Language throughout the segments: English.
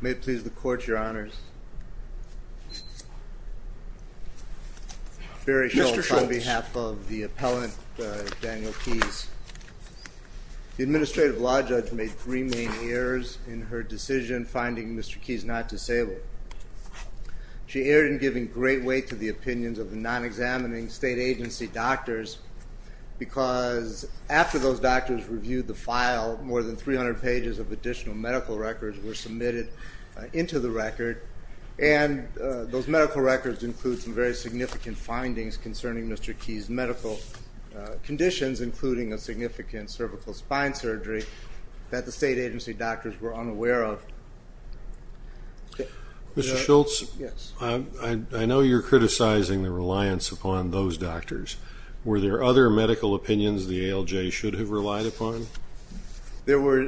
May it please the court, your honors, Barry Shultz on behalf of the appellant Daniel Keys. The administrative law judge made three main errors in her decision finding Mr. Keys not disabled. She erred in giving great weight to the opinions of the non-examining state agency doctors because after those doctors reviewed the file more than 300 pages of additional medical records were submitted into the record and those medical records include some very significant findings concerning Mr. Keys' medical conditions including a significant cervical spine surgery that the state agency doctors were unaware of. Mr. Shultz, I know you're criticizing the reliance upon those doctors. Were there other medical opinions the ALJ should have relied upon? There were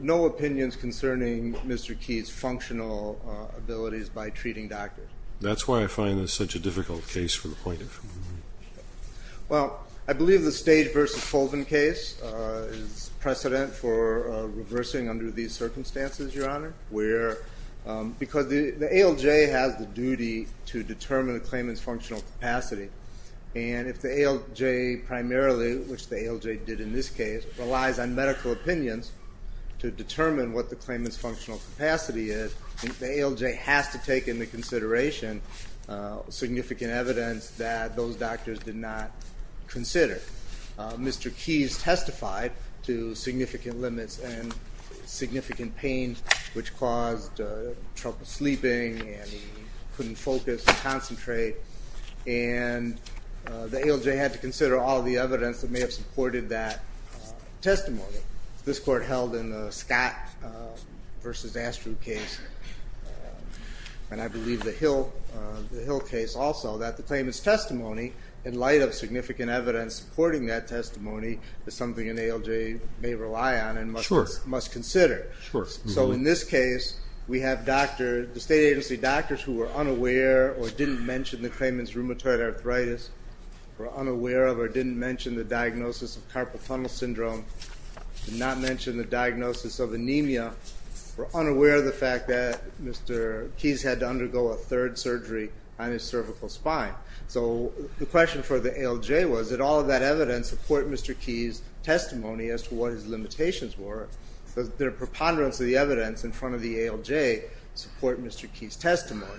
no opinions concerning Mr. Keys' functional abilities by treating doctors. That's why I find this such a difficult case for the plaintiff. Well, I believe the Stage v. Colvin case is precedent for reversing under these circumstances, your honor, where because the ALJ has the duty to determine the claimant's functional capacity and if the ALJ primarily, which the ALJ did in this case, relies on medical opinions to determine what the claimant's functional capacity is, the ALJ has to take into consideration significant evidence that those medical opinions were not correct. That those doctors did not consider. Mr. Keys testified to significant limits and significant pain which caused trouble sleeping and he couldn't focus and concentrate and the ALJ had to consider all the evidence that may have supported that testimony. This court held in the Scott v. Astruz case and I believe the Hill case also that the claimant's testimony, in light of significant evidence supporting that testimony, is something an ALJ may rely on and must consider. So in this case, we have doctors, the state agency doctors who were unaware or didn't mention the claimant's rheumatoid arthritis, were unaware of or didn't mention the diagnosis of carpal tunnel syndrome, did not mention the diagnosis of anemia, were unaware of the fact that Mr. Keys had to undergo a third surgery on his cervical spine. So the question for the ALJ was, did all of that evidence support Mr. Keys' testimony as to what his limitations were? Does their preponderance of the evidence in front of the ALJ support Mr. Keys' testimony?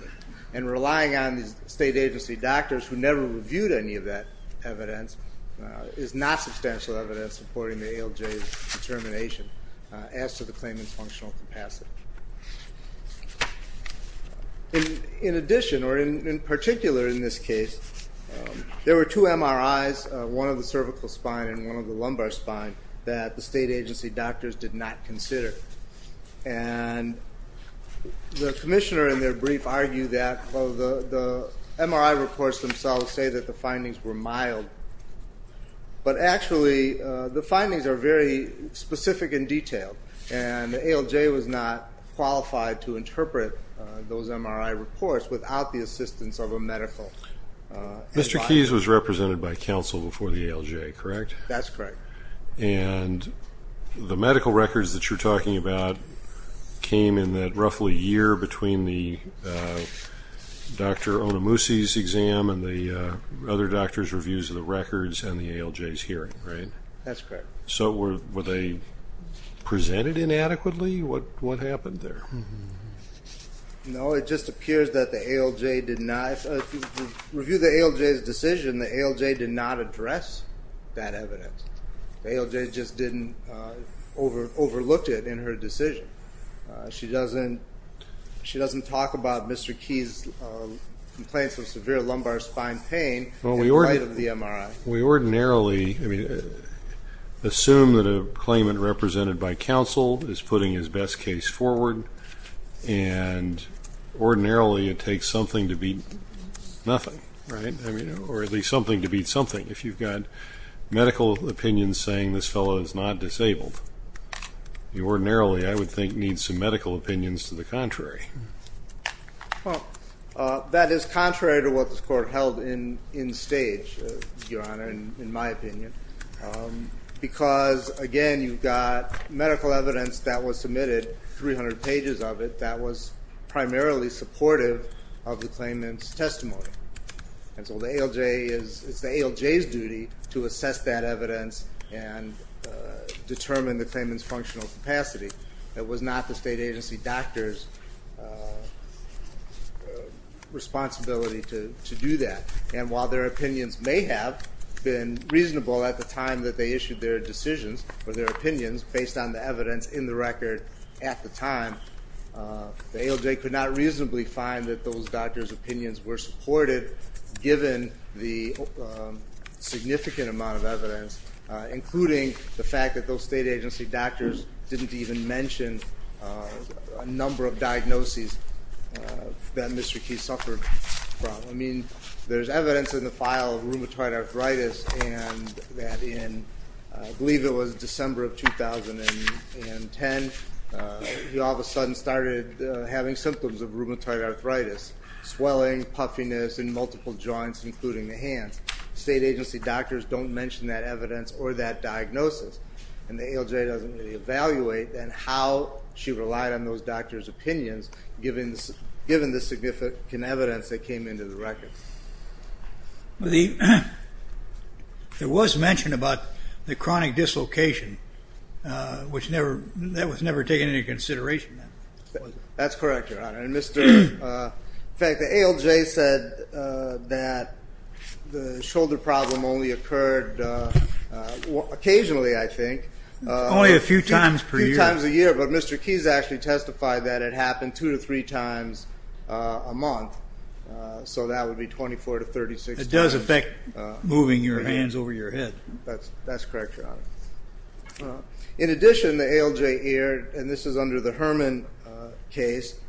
And relying on the state agency doctors who never reviewed any of that evidence is not substantial evidence supporting the ALJ's determination as to the claimant's functional capacity. In addition, or in particular in this case, there were two MRIs, one of the cervical spine and one of the lumbar spine, that the state agency doctors did not consider. And the commissioner in their brief argued that the MRI reports themselves say that the findings were mild, but actually the findings are very specific and detailed, and the ALJ was not qualified to interpret those MRI reports without the assistance of a medical advisor. Mr. Keys was represented by counsel before the ALJ, correct? That's correct. And the medical records that you're talking about came in that roughly year between Dr. Onamusi's exam and the other doctors' reviews of the records and the ALJ's hearing, right? That's correct. So were they presented inadequately? What happened there? No, it just appears that the ALJ did not, if you review the ALJ's decision, the ALJ did not address that evidence. The ALJ just didn't overlook it in her decision. She doesn't talk about Mr. Keys' complaints of severe lumbar spine pain in light of the MRI. We ordinarily assume that a claimant represented by counsel is putting his best case forward, and ordinarily it takes something to beat nothing, right? Or at least something to beat something, if you've got medical opinions saying this fellow is not disabled. You ordinarily, I would think, need some medical opinions to the contrary. Well, that is contrary to what this Court held in stage, Your Honor, in my opinion. Because, again, you've got medical evidence that was submitted, 300 pages of it, that was primarily supportive of the claimant's testimony. And so the ALJ is, it's the ALJ's duty to assess that evidence and determine the claimant's functional capacity. It was not the state agency doctor's responsibility to do that. And while their opinions may have been reasonable at the time that they issued their decisions, or their opinions, based on the evidence in the record at the time, the ALJ could not reasonably find that those doctors' opinions were supported, given the significant amount of evidence, including the fact that those state agency doctors didn't even mention a number of diagnoses that Mr. Key suffered from. I mean, there's evidence in the file of rheumatoid arthritis, and that in, I believe it was December of 2010, he all of a sudden started having symptoms of rheumatoid arthritis, swelling, puffiness in multiple joints, including the hands. State agency doctors don't mention that evidence or that diagnosis. And the ALJ doesn't really evaluate, then, how she relied on those doctors' opinions, given the significant evidence that came into the record. The, there was mention about the chronic dislocation, which never, that was never taken into consideration. That's correct, Your Honor. In fact, the ALJ said that the shoulder problem only occurred occasionally, I think. Only a few times per year. A few times a year, but Mr. Key has actually testified that it happened two to three times a month, so that would be 24 to 36 times. It does affect moving your hands over your head. That's correct, Your Honor. In addition, the ALJ aired, and this is under the Herman case,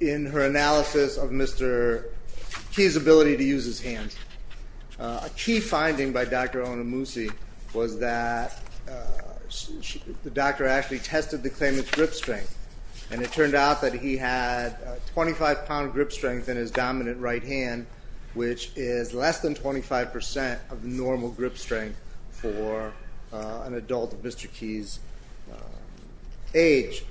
in her analysis of Mr. Key's ability to use his hands. A key finding by Dr. Onamusi was that the doctor actually tested the claimant's grip strength, and it turned out that he had 25-pound grip strength in his dominant right hand, which is less than 25% of normal grip strength for an adult of Mr. Key's age.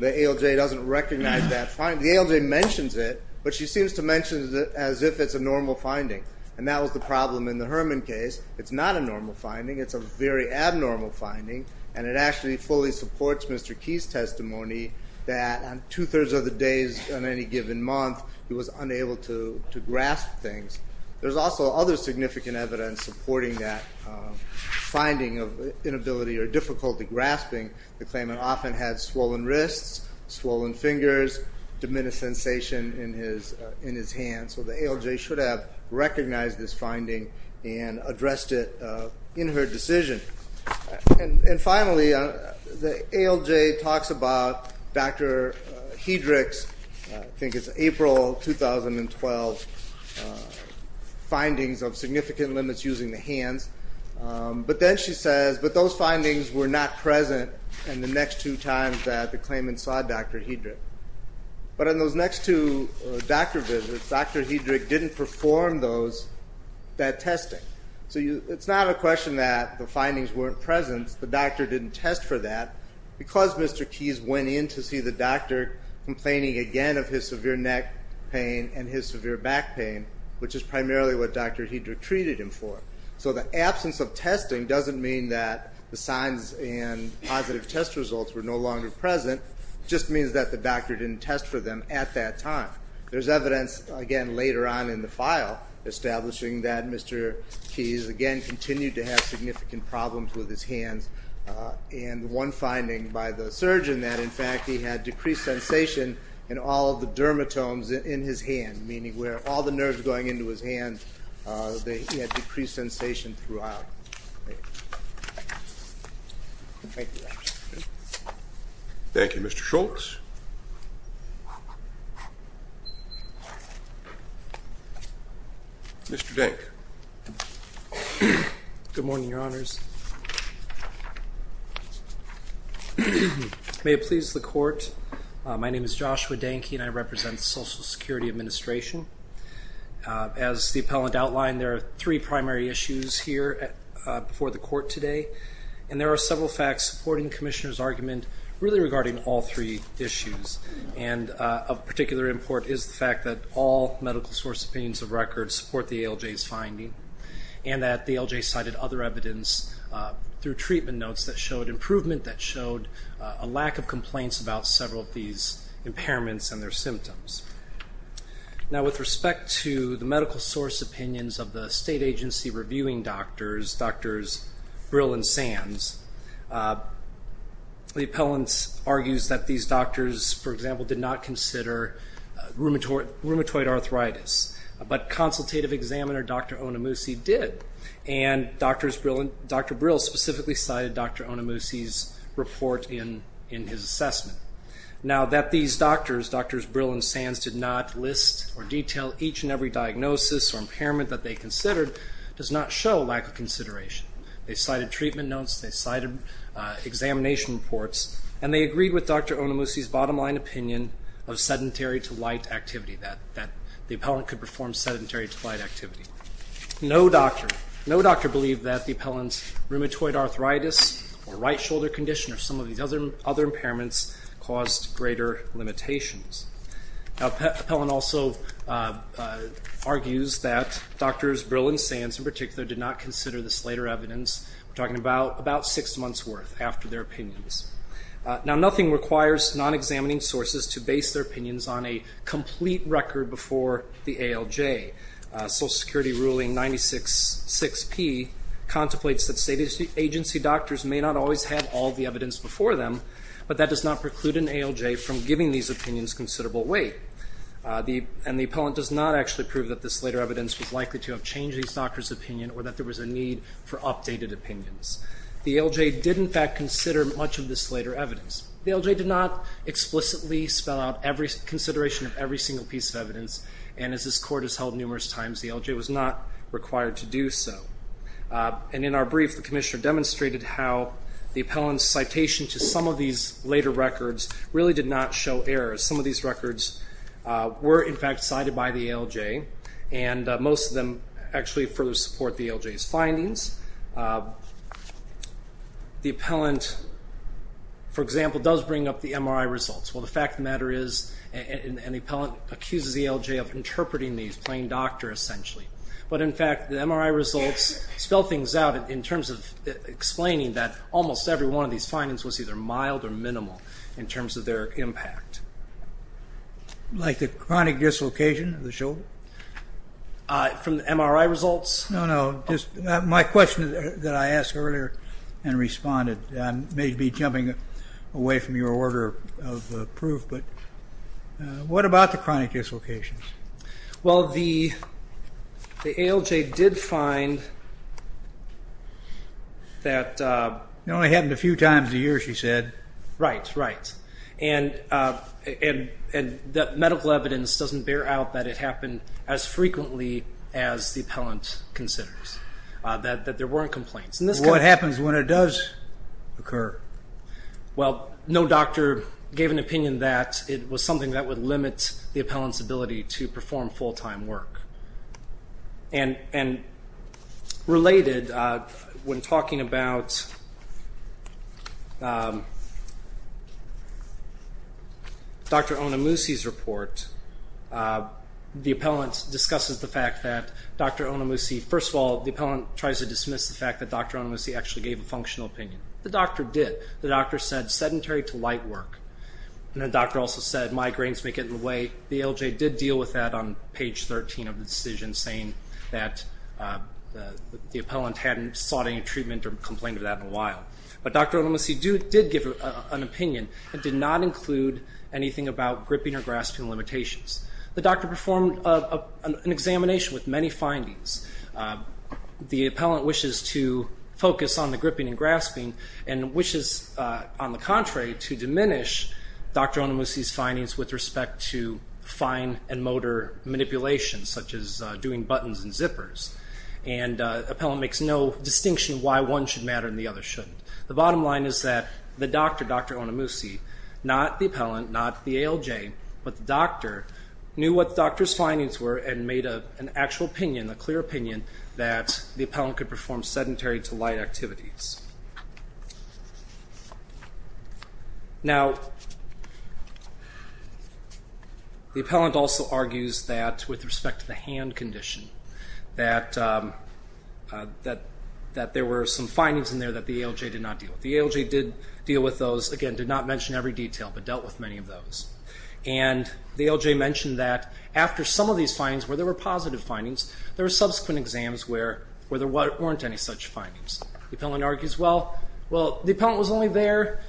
The ALJ doesn't recognize that finding. The ALJ mentions it, but she seems to mention it as if it's a normal finding, and that was the problem in the Herman case. It's not a normal finding. It's a very abnormal finding, and it actually fully supports Mr. Key's testimony that on two-thirds of the days on any given month, he was unable to grasp things. There's also other significant evidence supporting that finding of inability or difficulty grasping. The claimant often had swollen wrists, swollen fingers, diminished sensation in his hands, so the ALJ should have recognized this finding and addressed it in her decision. And finally, the ALJ talks about Dr. Hedrick's, I think it's April 2012, findings of significant limits using the hands. But then she says, but those findings were not present in the next two times that the claimant saw Dr. Hedrick. But in those next two doctor visits, Dr. Hedrick didn't perform that testing. So it's not a question that the findings weren't present. The doctor didn't test for that because Mr. Keys went in to see the doctor, complaining again of his severe neck pain and his severe back pain, which is primarily what Dr. Hedrick treated him for. So the absence of testing doesn't mean that the signs and positive test results were no longer present. It just means that the doctor didn't test for them at that time. There's evidence, again, later on in the file establishing that Mr. Keys, again, continued to have significant problems with his hands. And one finding by the surgeon that, in fact, he had decreased sensation in all of the dermatomes in his hand, meaning where all the nerves going into his hands, he had decreased sensation throughout. Thank you. Thank you, Mr. Schultz. Mr. Dank. Good morning, Your Honors. May it please the court, my name is Joshua Dank. I represent the Social Security Administration. As the appellant outlined, there are three primary issues here before the court today, and there are several facts supporting the Commissioner's argument really regarding all three issues. And of particular import is the fact that all medical source opinions of record support the ALJ's finding, and that the ALJ cited other evidence through treatment notes that showed improvement, that showed a lack of complaints about several of these impairments and their symptoms. Now, with respect to the medical source opinions of the state agency reviewing doctors, Drs. Brill and Sands, the appellant argues that these doctors, for example, did not consider rheumatoid arthritis, but consultative examiner Dr. Onomushi did, and Dr. Brill specifically cited Dr. Onomushi's report in his assessment. Now, that these doctors, Drs. Brill and Sands, did not list or detail each and every diagnosis or impairment that they considered does not show lack of consideration. They cited treatment notes, they cited examination reports, and they agreed with Dr. Onomushi's bottom line opinion of sedentary to light activity, that the appellant could perform sedentary to light activity. No doctor believed that the appellant's rheumatoid arthritis or right shoulder condition or some of these other impairments caused greater limitations. Now, the appellant also argues that Drs. Brill and Sands in particular did not consider this later evidence. We're talking about six months' worth after their opinions. Now, nothing requires non-examining sources to base their opinions on a complete record before the ALJ. Social Security ruling 966P contemplates that state agency doctors may not always have all the evidence before them, but that does not preclude an ALJ from giving these opinions considerable weight. And the appellant does not actually prove that this later evidence was likely to have changed these doctors' opinion or that there was a need for updated opinions. The ALJ did, in fact, consider much of this later evidence. The ALJ did not explicitly spell out consideration of every single piece of evidence, and as this court has held numerous times, the ALJ was not required to do so. And in our brief, the commissioner demonstrated how the appellant's citation to some of these later records really did not show errors. Some of these records were, in fact, cited by the ALJ, and most of them actually further support the ALJ's findings. The appellant, for example, does bring up the MRI results. Well, the fact of the matter is an appellant accuses the ALJ of interpreting these, playing doctor, essentially. But, in fact, the MRI results spell things out in terms of explaining that almost every one of these findings was either mild or minimal in terms of their impact. Like the chronic dislocation of the shoulder? From the MRI results? No, no. My question that I asked earlier and responded may be jumping away from your order of proof, but what about the chronic dislocations? Well, the ALJ did find that... It only happened a few times a year, she said. Right, right. And the medical evidence doesn't bear out that it happened as frequently as the appellant considers, that there weren't complaints. What happens when it does occur? Well, no doctor gave an opinion that it was something that would limit the appellant's ability to perform full-time work. And related, when talking about Dr. Onomushi's report, the appellant discusses the fact that Dr. Onomushi... First of all, the appellant tries to dismiss the fact that Dr. Onomushi actually gave a functional opinion. The doctor did. The doctor said, sedentary to light work. And the doctor also said, migraines make it in the way. The ALJ did deal with that on page 13 of the decision, saying that the appellant hadn't sought any treatment or complained of that in a while. But Dr. Onomushi did give an opinion. It did not include anything about gripping or grasping limitations. The doctor performed an examination with many findings. The appellant wishes to focus on the gripping and grasping, and wishes, on the contrary, to diminish Dr. Onomushi's findings with respect to fine and motor manipulation, such as doing buttons and zippers. And the appellant makes no distinction why one should matter and the other shouldn't. The bottom line is that the doctor, Dr. Onomushi, not the appellant, not the ALJ, but the doctor, knew what the doctor's findings were and made an actual opinion, a clear opinion, that the appellant could perform sedentary to light activities. Now, the appellant also argues that, with respect to the hand condition, that there were some findings in there that the ALJ did not deal with. The ALJ did deal with those, again, did not mention every detail, but dealt with many of those. And the ALJ mentioned that after some of these findings, where there were positive findings, there were subsequent exams where there weren't any such findings. The appellant argues, well, the appellant was only there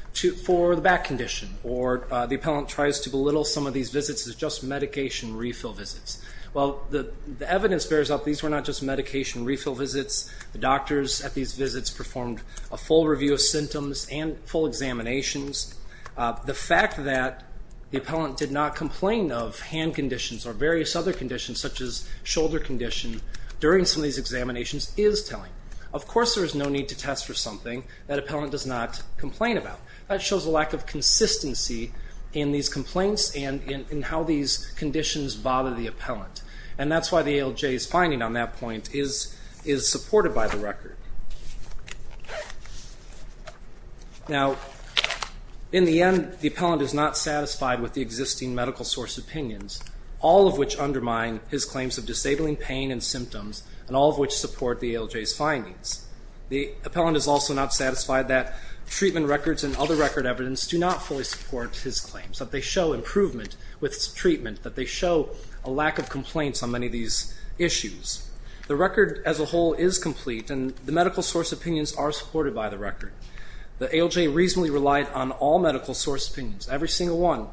for the back condition, or the appellant tries to belittle some of these visits as just medication refill visits. Well, the evidence bears out these were not just medication refill visits. The doctors at these visits performed a full review of symptoms and full examinations. The fact that the appellant did not complain of hand conditions or various other conditions, such as shoulder condition, during some of these examinations is telling. Of course there is no need to test for something that appellant does not complain about. That shows a lack of consistency in these complaints and in how these conditions bother the appellant. And that's why the ALJ's finding on that point is supported by the record. Now, in the end, the appellant is not satisfied with the existing medical source opinions, all of which undermine his claims of disabling pain and symptoms, and all of which support the ALJ's findings. The appellant is also not satisfied that treatment records and other record evidence do not fully support his claims, that they show improvement with treatment, that they show a lack of complaints on many of these issues. The record as a whole is complete, and the medical source opinions are supported by the record. The ALJ reasonably relied on all medical source opinions, every single one,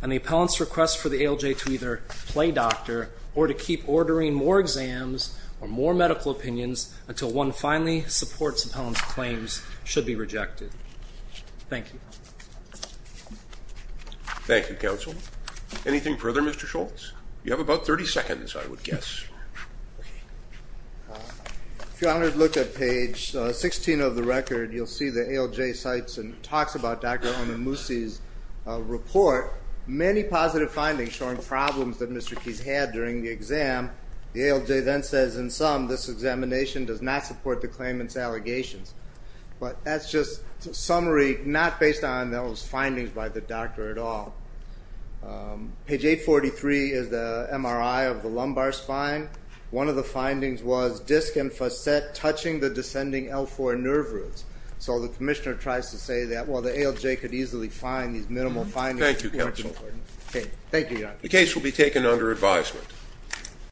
and the appellant's request for the ALJ to either play doctor or to keep ordering more exams or more medical opinions until one finally supports the appellant's claims should be rejected. Thank you. Thank you, Counsel. Anything further, Mr. Schultz? You have about 30 seconds, I would guess. If you want to look at page 16 of the record, you'll see the ALJ cites and talks about Dr. Onamusi's report, many positive findings showing problems that Mr. Keyes had during the exam. The ALJ then says, in sum, this examination does not support the claimant's allegations. But that's just a summary not based on those findings by the doctor at all. Page 843 is the MRI of the lumbar spine. One of the findings was disc and facet touching the descending L4 nerve roots. So the commissioner tries to say that, well, the ALJ could easily find these minimal findings. Thank you, Counsel. Thank you, Your Honor. The case will be taken under advisement.